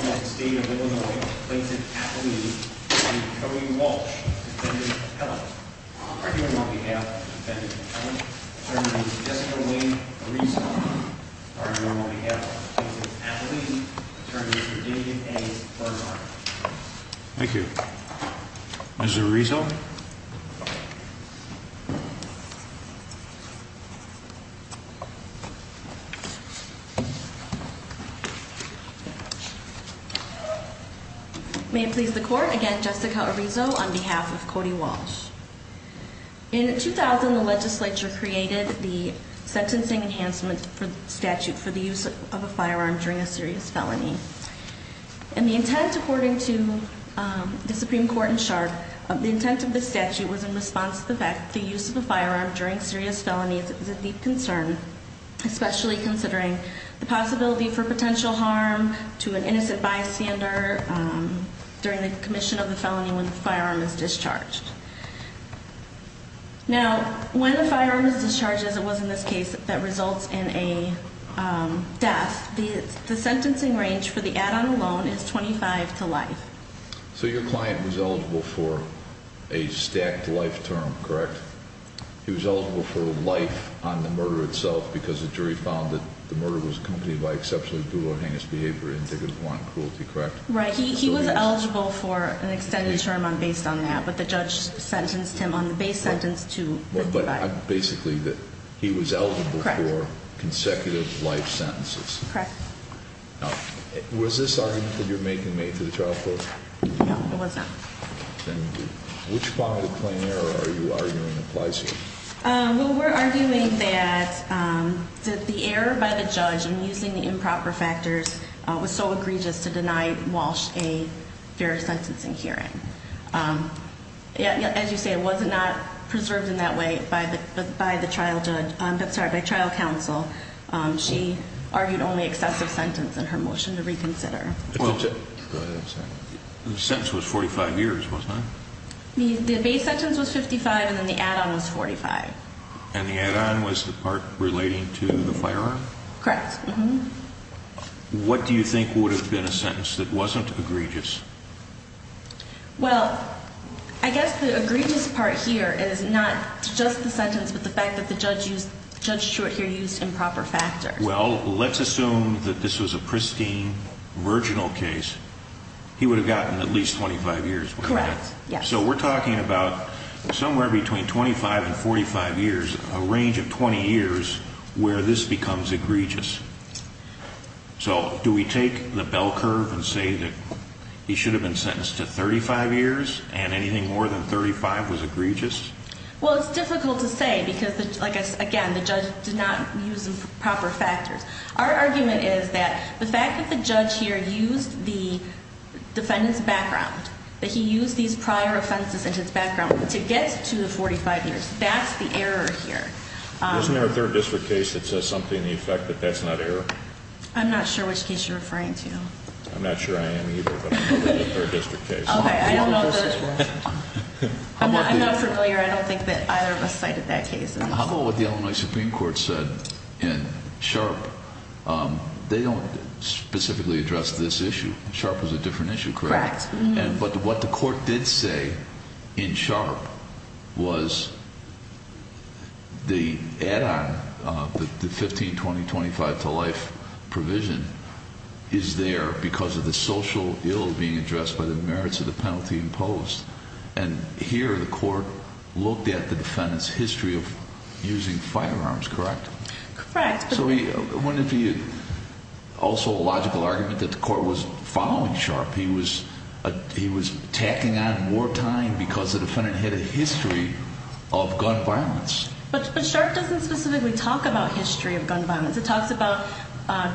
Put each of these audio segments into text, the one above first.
the state of Illinois plaintiff's athlete, Attorney Cody Walsh, defendant of Helen. On behalf of defendant Helen, Attorney Jessica-Laine Arizo. On behalf of plaintiff's athlete, Attorney David A. Berghardt. Thank you. Ms. Arizo. May it please the court, again Jessica Arizo on behalf of Cody Walsh. In 2000 the legislature created the sentencing enhancement statute for the use of a firearm during a serious felony. And the intent according to the Supreme Court and SHARP, the intent of the statute was in response to the fact that the use of a firearm during serious felonies is a deep concern. Especially considering the possibility for potential harm to an innocent bystander during the commission of the felony when the firearm is discharged. Now, when a firearm is discharged, as it was in this case, that results in a death, the sentencing range for the add-on alone is 25 to life. So your client was eligible for a stacked life term, correct? He was eligible for life on the murder itself because the jury found that the murder was accompanied by exceptionally cruel or heinous behavior indicative of violent cruelty, correct? Right, he was eligible for an extended term based on that, but the judge sentenced him on the base sentence to life. But basically he was eligible for consecutive life sentences. Correct. Now, was this argument that you're making made to the trial court? No, it was not. Then which point of plain error are you arguing applies here? Well, we're arguing that the error by the judge in using the improper factors was so egregious to deny Walsh a fair sentencing hearing. As you say, it was not preserved in that way by the trial judge, I'm sorry, by trial counsel. She argued only excessive sentence in her motion to reconsider. The sentence was 45 years, wasn't it? The base sentence was 55, and then the add-on was 45. And the add-on was the part relating to the firearm? Correct. What do you think would have been a sentence that wasn't egregious? Well, I guess the egregious part here is not just the sentence, but the fact that the judge used improper factors. Well, let's assume that this was a pristine, virginal case. He would have gotten at least 25 years. Correct, yes. So we're talking about somewhere between 25 and 45 years, a range of 20 years, where this becomes egregious. So do we take the bell curve and say that he should have been sentenced to 35 years and anything more than 35 was egregious? Well, it's difficult to say because, again, the judge did not use improper factors. Our argument is that the fact that the judge here used the defendant's background, that he used these prior offenses in his background, to get to the 45 years, that's the error here. Isn't there a third district case that says something to the effect that that's not error? I'm not sure which case you're referring to. I'm not sure I am either, but I'm thinking of a third district case. Okay, I don't know if there's a third district case. I'm not familiar. I don't think that either of us cited that case. How about what the Illinois Supreme Court said in Sharpe? They don't specifically address this issue. Sharpe was a different issue, correct? Correct. But what the court did say in Sharpe was the add-on, the 15, 20, 25 to life provision, is there because of the social ill being addressed by the merits of the penalty imposed. And here the court looked at the defendant's history of using firearms, correct? Correct. So I'm wondering if also a logical argument that the court was following Sharpe. He was tacking on more time because the defendant had a history of gun violence. But Sharpe doesn't specifically talk about history of gun violence. It talks about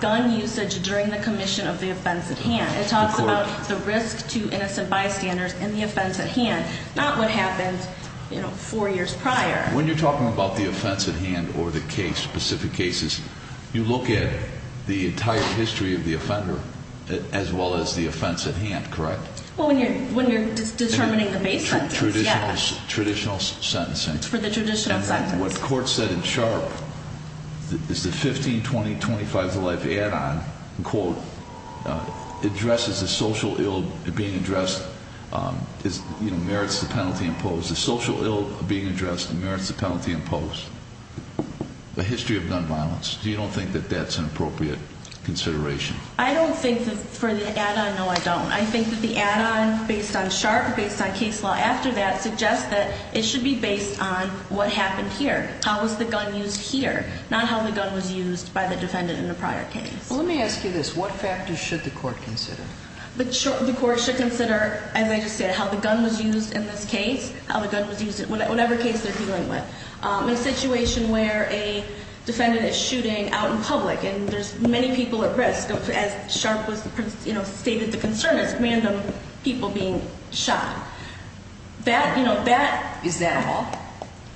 gun usage during the commission of the offense at hand. It talks about the risk to innocent bystanders in the offense at hand, not what happened four years prior. When you're talking about the offense at hand or the case, specific cases, you look at the entire history of the offender as well as the offense at hand, correct? Well, when you're determining the base sentence, yes. Traditional sentencing. For the traditional sentence. And what the court said in Sharpe is the 15, 20, 25 to life add-on, quote, addresses the social ill being addressed, merits the penalty imposed. The social ill being addressed merits the penalty imposed. The history of gun violence. Do you don't think that that's an appropriate consideration? I don't think that for the add-on, no, I don't. I think that the add-on based on Sharpe, based on case law after that, suggests that it should be based on what happened here, how was the gun used here, not how the gun was used by the defendant in the prior case. Well, let me ask you this. What factors should the court consider? The court should consider, as I just said, how the gun was used in this case, how the gun was used in whatever case they're dealing with. In a situation where a defendant is shooting out in public and there's many people at risk, as Sharpe stated, the concern is random people being shot. Is that all?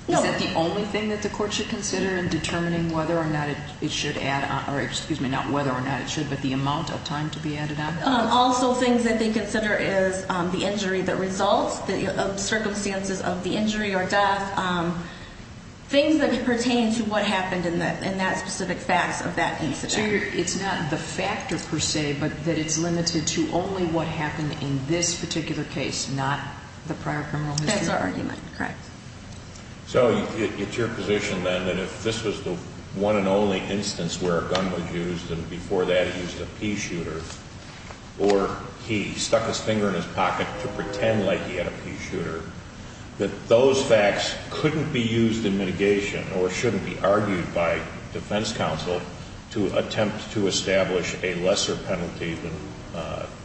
No. Is that the only thing that the court should consider in determining whether or not it should add on, or excuse me, not whether or not it should, but the amount of time to be added on? Also, things that they consider is the injury that results, the circumstances of the injury or death, things that pertain to what happened in that specific facts of that incident. So it's not the factor per se, but that it's limited to only what happened in this particular case, not the prior criminal history? That's our argument. Correct. So it's your position then that if this was the one and only instance where a gun was used and before that it was a pea shooter, or he stuck his finger in his pocket to pretend like he had a pea shooter, that those facts couldn't be used in mitigation or shouldn't be argued by defense counsel to attempt to establish a lesser penalty than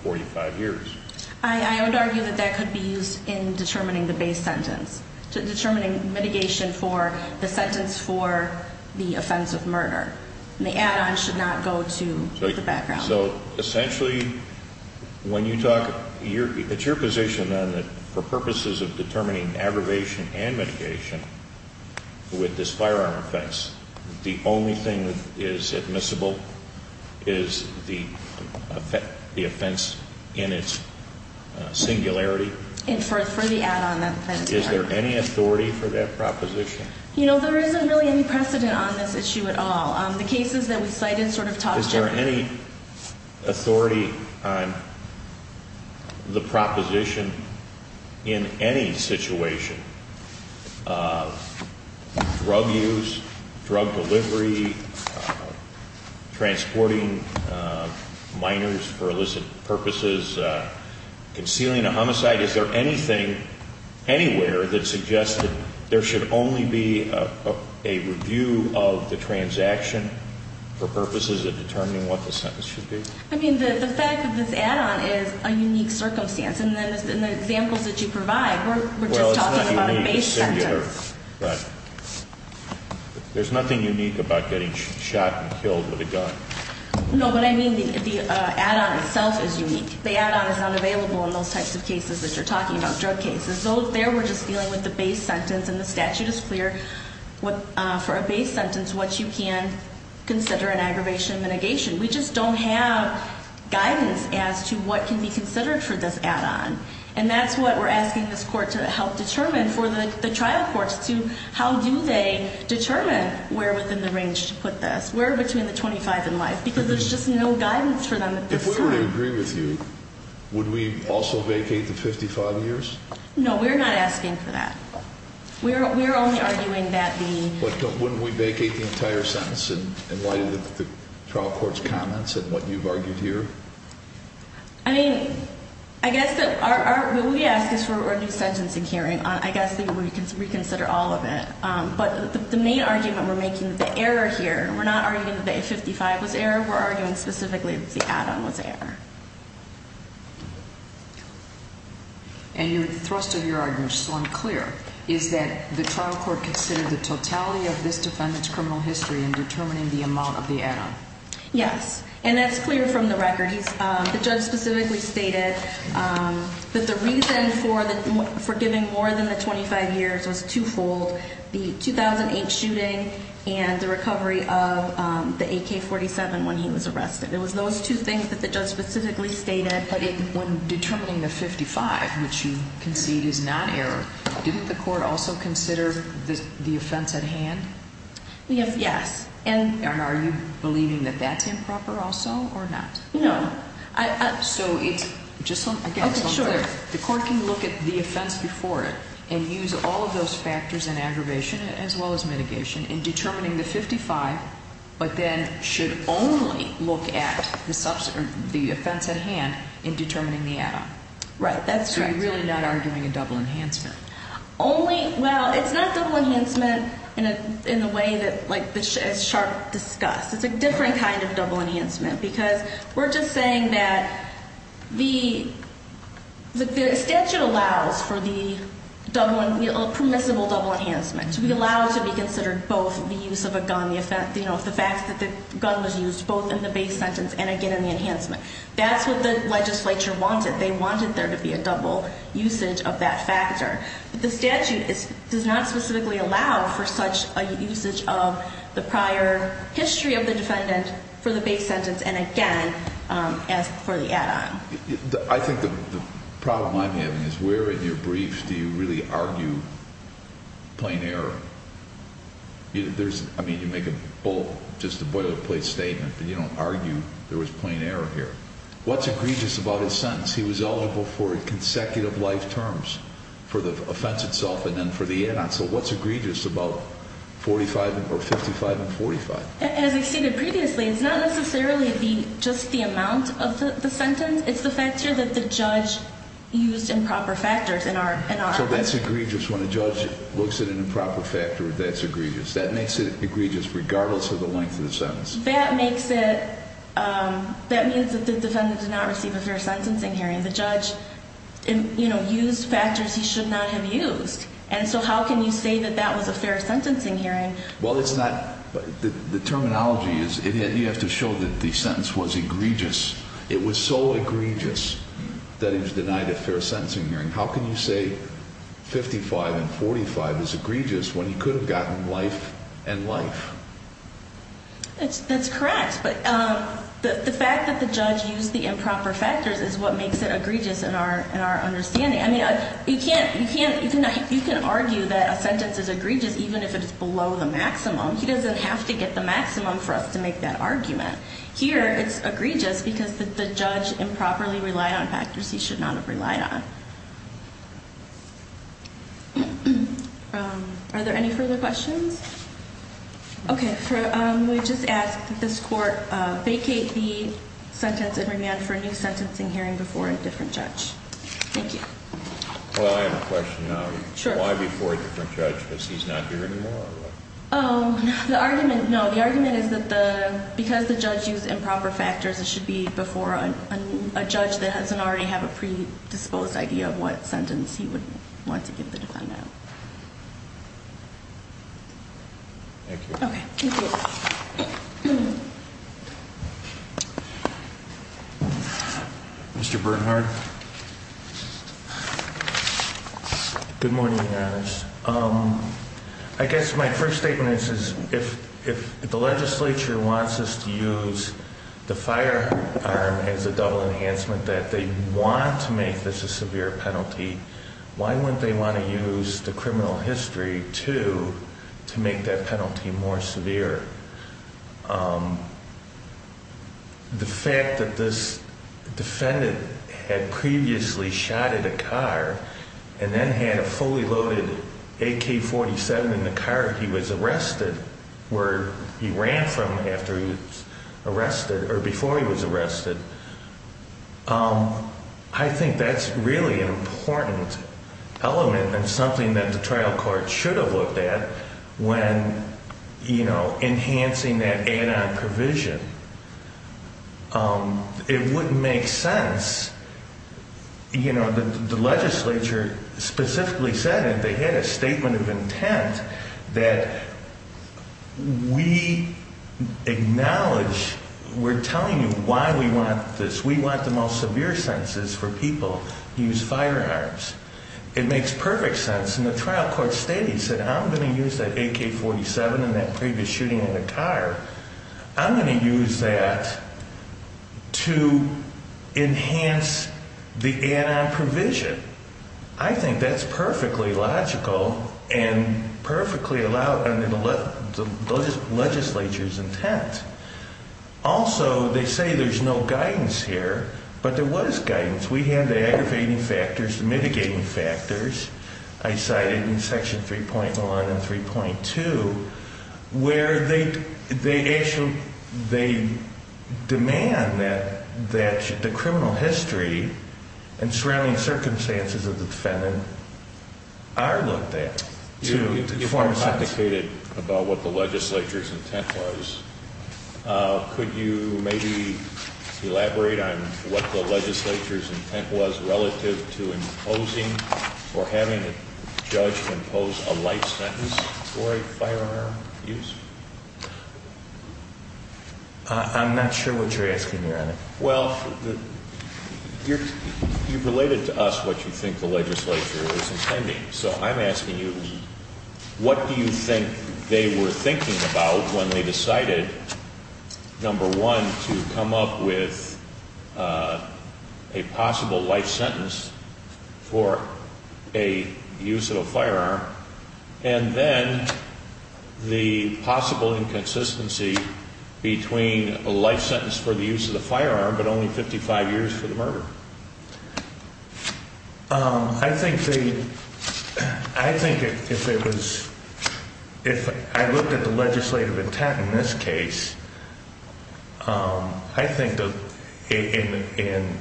45 years? I would argue that that could be used in determining the base sentence, determining mitigation for the sentence for the offense of murder. The add on should not go to the background. So essentially when you talk, it's your position then that for purposes of determining aggravation and mitigation, with this firearm offense, the only thing that is admissible is the offense in its singularity? And for the add on that offense. Is there any authority for that proposition? You know, there isn't really any precedent on this issue at all. The cases that we cited sort of talk differently. Is there any authority on the proposition in any situation of drug use, drug delivery, transporting minors for illicit purposes, concealing a homicide? Is there anything anywhere that suggests that there should only be a review of the transaction for purposes of determining what the sentence should be? I mean, the fact of this add on is a unique circumstance. And then in the examples that you provide, we're just talking about a base sentence. Well, it's not unique. It's singular. But there's nothing unique about getting shot and killed with a gun. No, but I mean the add on itself is unique. The add on is not available in those types of cases that you're talking about, drug cases. There we're just dealing with the base sentence, and the statute is clear. For a base sentence, what you can consider an aggravation and mitigation. We just don't have guidance as to what can be considered for this add on. And that's what we're asking this court to help determine for the trial courts, to how do they determine where within the range to put this? Where between the 25 and life? Because there's just no guidance for them. If we were to agree with you, would we also vacate the 55 years? No, we're not asking for that. We're only arguing that the – But wouldn't we vacate the entire sentence in light of the trial court's comments and what you've argued here? I mean, I guess what we ask is for a new sentencing hearing. I guess we consider all of it. But the main argument we're making, the error here, we're not arguing that the 55 was error. We're arguing specifically that the add on was error. And the thrust of your argument, which is unclear, is that the trial court considered the totality of this defendant's criminal history in determining the amount of the add on. Yes, and that's clear from the record. The judge specifically stated that the reason for giving more than the 25 years was twofold, so the 2008 shooting and the recovery of the AK-47 when he was arrested. It was those two things that the judge specifically stated. But when determining the 55, which you concede is not error, didn't the court also consider the offense at hand? Yes. And are you believing that that's improper also or not? No. So it's just so, again, it's unclear. Okay, sure. The court can look at the offense before it and use all of those factors in aggravation as well as mitigation in determining the 55, but then should only look at the offense at hand in determining the add on. Right, that's correct. So you're really not arguing a double enhancement? Only, well, it's not double enhancement in the way that, like, as Sharp discussed. It's a different kind of double enhancement because we're just saying that the statute allows for the permissible double enhancement to be allowed to be considered both the use of a gun, the fact that the gun was used both in the base sentence and, again, in the enhancement. That's what the legislature wanted. They wanted there to be a double usage of that factor. The statute does not specifically allow for such a usage of the prior history of the defendant for the base sentence and, again, for the add on. I think the problem I'm having is where in your briefs do you really argue plain error? I mean, you make just a boilerplate statement, but you don't argue there was plain error here. What's egregious about his sentence? He was eligible for consecutive life terms for the offense itself and then for the add on. So what's egregious about 45 or 55 and 45? As I stated previously, it's not necessarily just the amount of the sentence. It's the fact here that the judge used improper factors in our offense. So that's egregious when a judge looks at an improper factor. That's egregious. That means that the defendant did not receive a fair sentencing hearing. The judge used factors he should not have used. And so how can you say that that was a fair sentencing hearing? Well, it's not. The terminology is you have to show that the sentence was egregious. It was so egregious that he was denied a fair sentencing hearing. How can you say 55 and 45 is egregious when he could have gotten life and life? That's correct. But the fact that the judge used the improper factors is what makes it egregious in our understanding. I mean, you can argue that a sentence is egregious even if it's below the maximum. He doesn't have to get the maximum for us to make that argument. Here it's egregious because the judge improperly relied on factors he should not have relied on. Are there any further questions? Okay. We just asked that this court vacate the sentence in remand for a new sentencing hearing before a different judge. Thank you. Well, I have a question now. Sure. Why before a different judge? Because he's not here anymore or what? Oh, no. The argument is that because the judge used improper factors, it should be before a judge that doesn't already have a predisposed idea of what sentence he would want to give the defendant. Thank you. Okay. Thank you. Mr. Bernhard. Good morning, Your Honors. I guess my first statement is if the legislature wants us to use the firearm as a double enhancement that they want to make this a severe penalty, why wouldn't they want to use the criminal history, too, to make that penalty more severe? The fact that this defendant had previously shot at a car and then had a fully loaded AK-47 in the car he was arrested, where he ran from after he was arrested or before he was arrested, I think that's really an important element and something that the trial court should have looked at when, you know, enhancing that add-on provision. It wouldn't make sense. You know, the legislature specifically said it. They had a statement of intent that we acknowledge we're telling you why we want this. We want the most severe sentences for people who use firearms. It makes perfect sense. And the trial court stated, said, I'm going to use that AK-47 and that previous shooting in the car, I'm going to use that to enhance the add-on provision. I think that's perfectly logical and perfectly allowed under the legislature's intent. Also, they say there's no guidance here, but there was guidance. We had the aggravating factors, the mitigating factors. I cited in Section 3.1 and 3.2 where they actually demand that the criminal history and surrounding circumstances of the defendant are looked at to form sense. If I'm complicated about what the legislature's intent was, could you maybe elaborate on what the legislature's intent was relative to imposing or having a judge impose a life sentence for a firearm use? I'm not sure what you're asking me on it. Well, you've related to us what you think the legislature is intending, so I'm asking you, what do you think they were thinking about when they decided, number one, to come up with a possible life sentence for a use of a firearm, and then the possible inconsistency between a life sentence for the use of the firearm I think they, I think if it was, if I looked at the legislative intent in this case, I think that in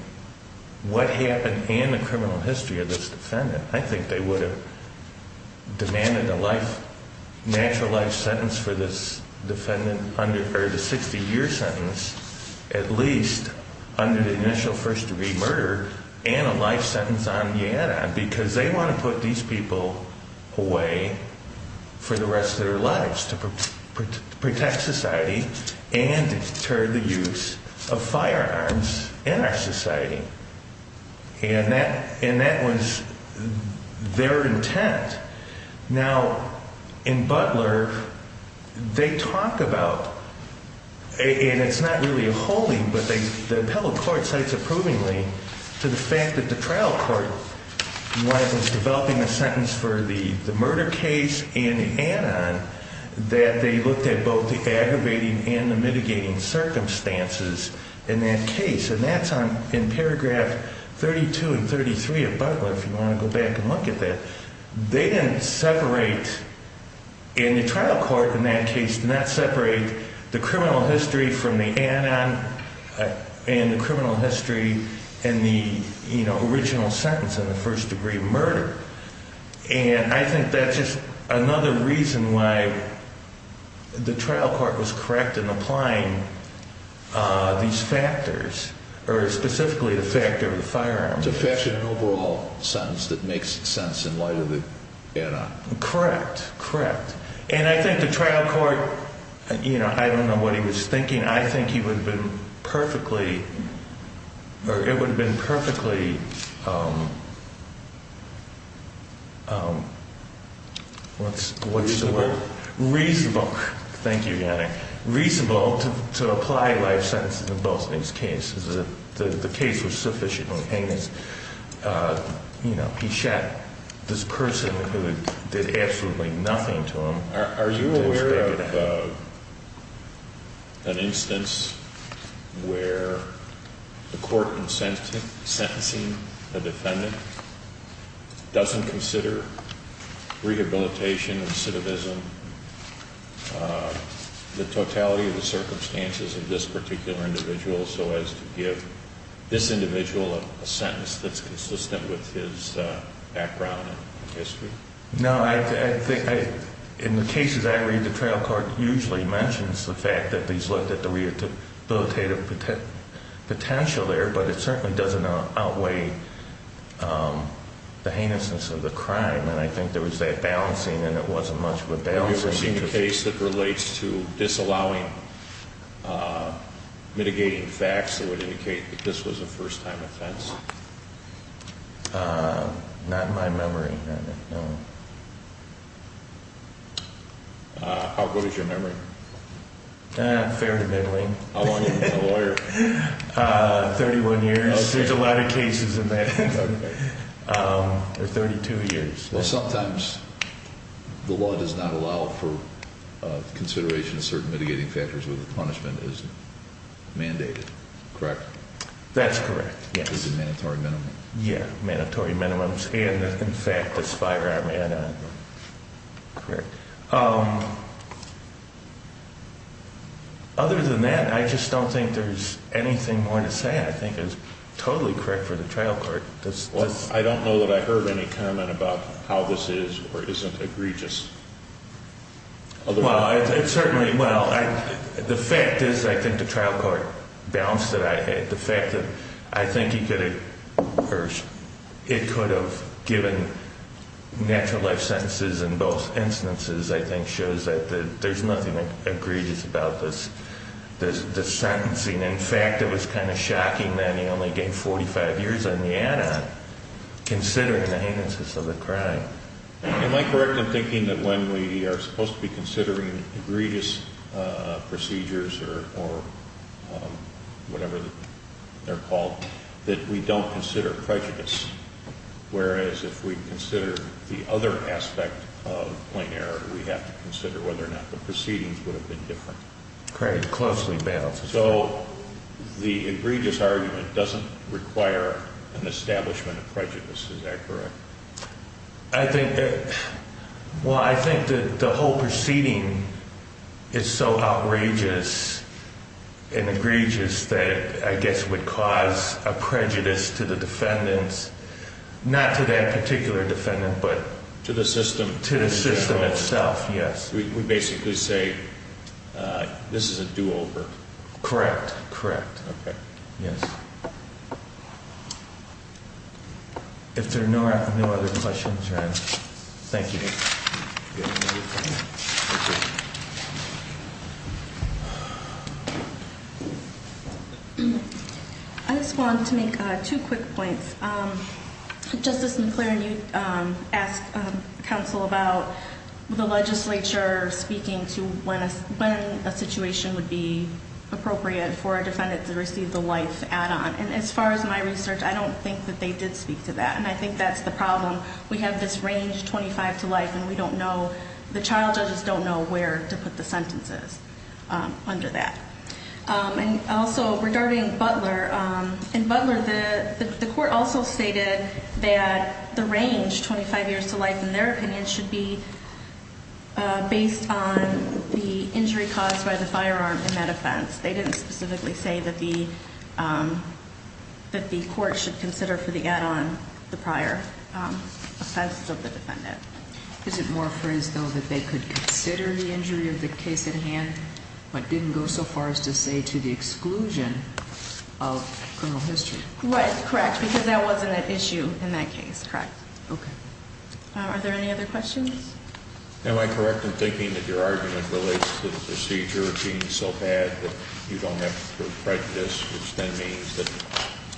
what happened in the criminal history of this defendant, I think they would have demanded a life, natural life sentence for this defendant, or the 60-year sentence, at least, under the initial first-degree murder, and a life sentence on Yada, because they want to put these people away for the rest of their lives to protect society and deter the use of firearms in our society. And that was their intent. Now, in Butler, they talk about, and it's not really a holding, but the appellate court cites approvingly to the fact that the trial court was developing a sentence for the murder case in Anon that they looked at both the aggravating and the mitigating circumstances in that case, and that's in paragraph 32 and 33 of Butler, if you want to go back and look at that. They didn't separate, and the trial court in that case did not separate the criminal history from the Anon and the criminal history in the original sentence on the first-degree murder. And I think that's just another reason why the trial court was correct in applying these factors, or specifically the factor of the firearms. It's a factional and overall sentence that makes sense in light of the Anon. Correct, correct. And I think the trial court, you know, I don't know what he was thinking. I think he would have been perfectly, or it would have been perfectly, what's the word? Reasonable. Thank you, Yannick. Reasonable to apply life sentences in both these cases. The case was sufficiently heinous. You know, he shot this person who did absolutely nothing to him. Are you aware of an instance where the court in sentencing the defendant doesn't consider rehabilitation, recidivism, the totality of the circumstances of this particular individual so as to give this individual a sentence that's consistent with his background and history? No, I think in the cases I read, the trial court usually mentions the fact that these looked at the rehabilitative potential there, but it certainly doesn't outweigh the heinousness of the crime. And I think there was that balancing, and it wasn't much of a balancing. Have you ever seen a case that relates to disallowing, mitigating facts that would indicate that this was a first-time offense? Not in my memory, no. How good is your memory? Fair to middling. How long have you been a lawyer? 31 years. There's a lot of cases in that. Or 32 years. Well, sometimes the law does not allow for consideration of certain mitigating factors when the punishment is mandated, correct? That's correct, yes. Is it mandatory minimum? Yeah, mandatory minimums and, in fact, the firearm add-on. Correct. Other than that, I just don't think there's anything more to say I think is totally correct for the trial court. Well, I don't know that I heard any comment about how this is or isn't egregious. Well, it certainly, well, the fact is I think the trial court balanced it. The fact that I think he could have, or it could have given natural life sentences in both instances I think shows that there's nothing egregious about this sentencing. In fact, it was kind of shocking that he only gained 45 years on the add-on, considering the heinousness of the crime. Am I correct in thinking that when we are supposed to be considering egregious procedures or whatever they're called, that we don't consider prejudice, whereas if we consider the other aspect of plain error, we have to consider whether or not the proceedings would have been different? Craig, closely balanced. So the egregious argument doesn't require an establishment of prejudice, is that correct? I think, well, I think that the whole proceeding is so outrageous and egregious that I guess would cause a prejudice to the defendants, not to that particular defendant, but. To the system. To the system itself, yes. We basically say this is a do-over. Correct, correct. Okay. Yes. If there are no other questions, then thank you. I just wanted to make two quick points. Justice McLaren, you asked counsel about the legislature speaking to when a situation would be appropriate for a defendant to receive the life add-on. And as far as my research, I don't think that they did speak to that. And I think that's the problem. We have this range, 25 to life, and we don't know, the child judges don't know where to put the sentences under that. And also, regarding Butler, in Butler, the court also stated that the range, 25 years to life, in their opinion, should be based on the injury caused by the firearm in that offense. They didn't specifically say that the court should consider for the add-on the prior offense of the defendant. Is it more phrased, though, that they could consider the injury of the case at hand, but didn't go so far as to say to the exclusion of criminal history? Right, correct, because that wasn't an issue in that case, correct. Okay. Are there any other questions? Am I correct in thinking that your argument relates to the procedure being so bad that you don't have to write this, which then means that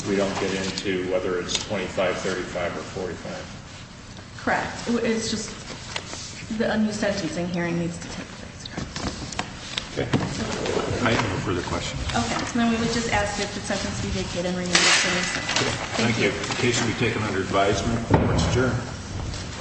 we don't get into whether it's 25, 35, or 45? Correct, it's just that a new sentencing hearing needs to take place, correct. Okay. I have no further questions. Okay, then we would just ask that the sentence be vacated and renewed as soon as possible. Thank you. Thank you. The case will be taken under advisement. Court is adjourned.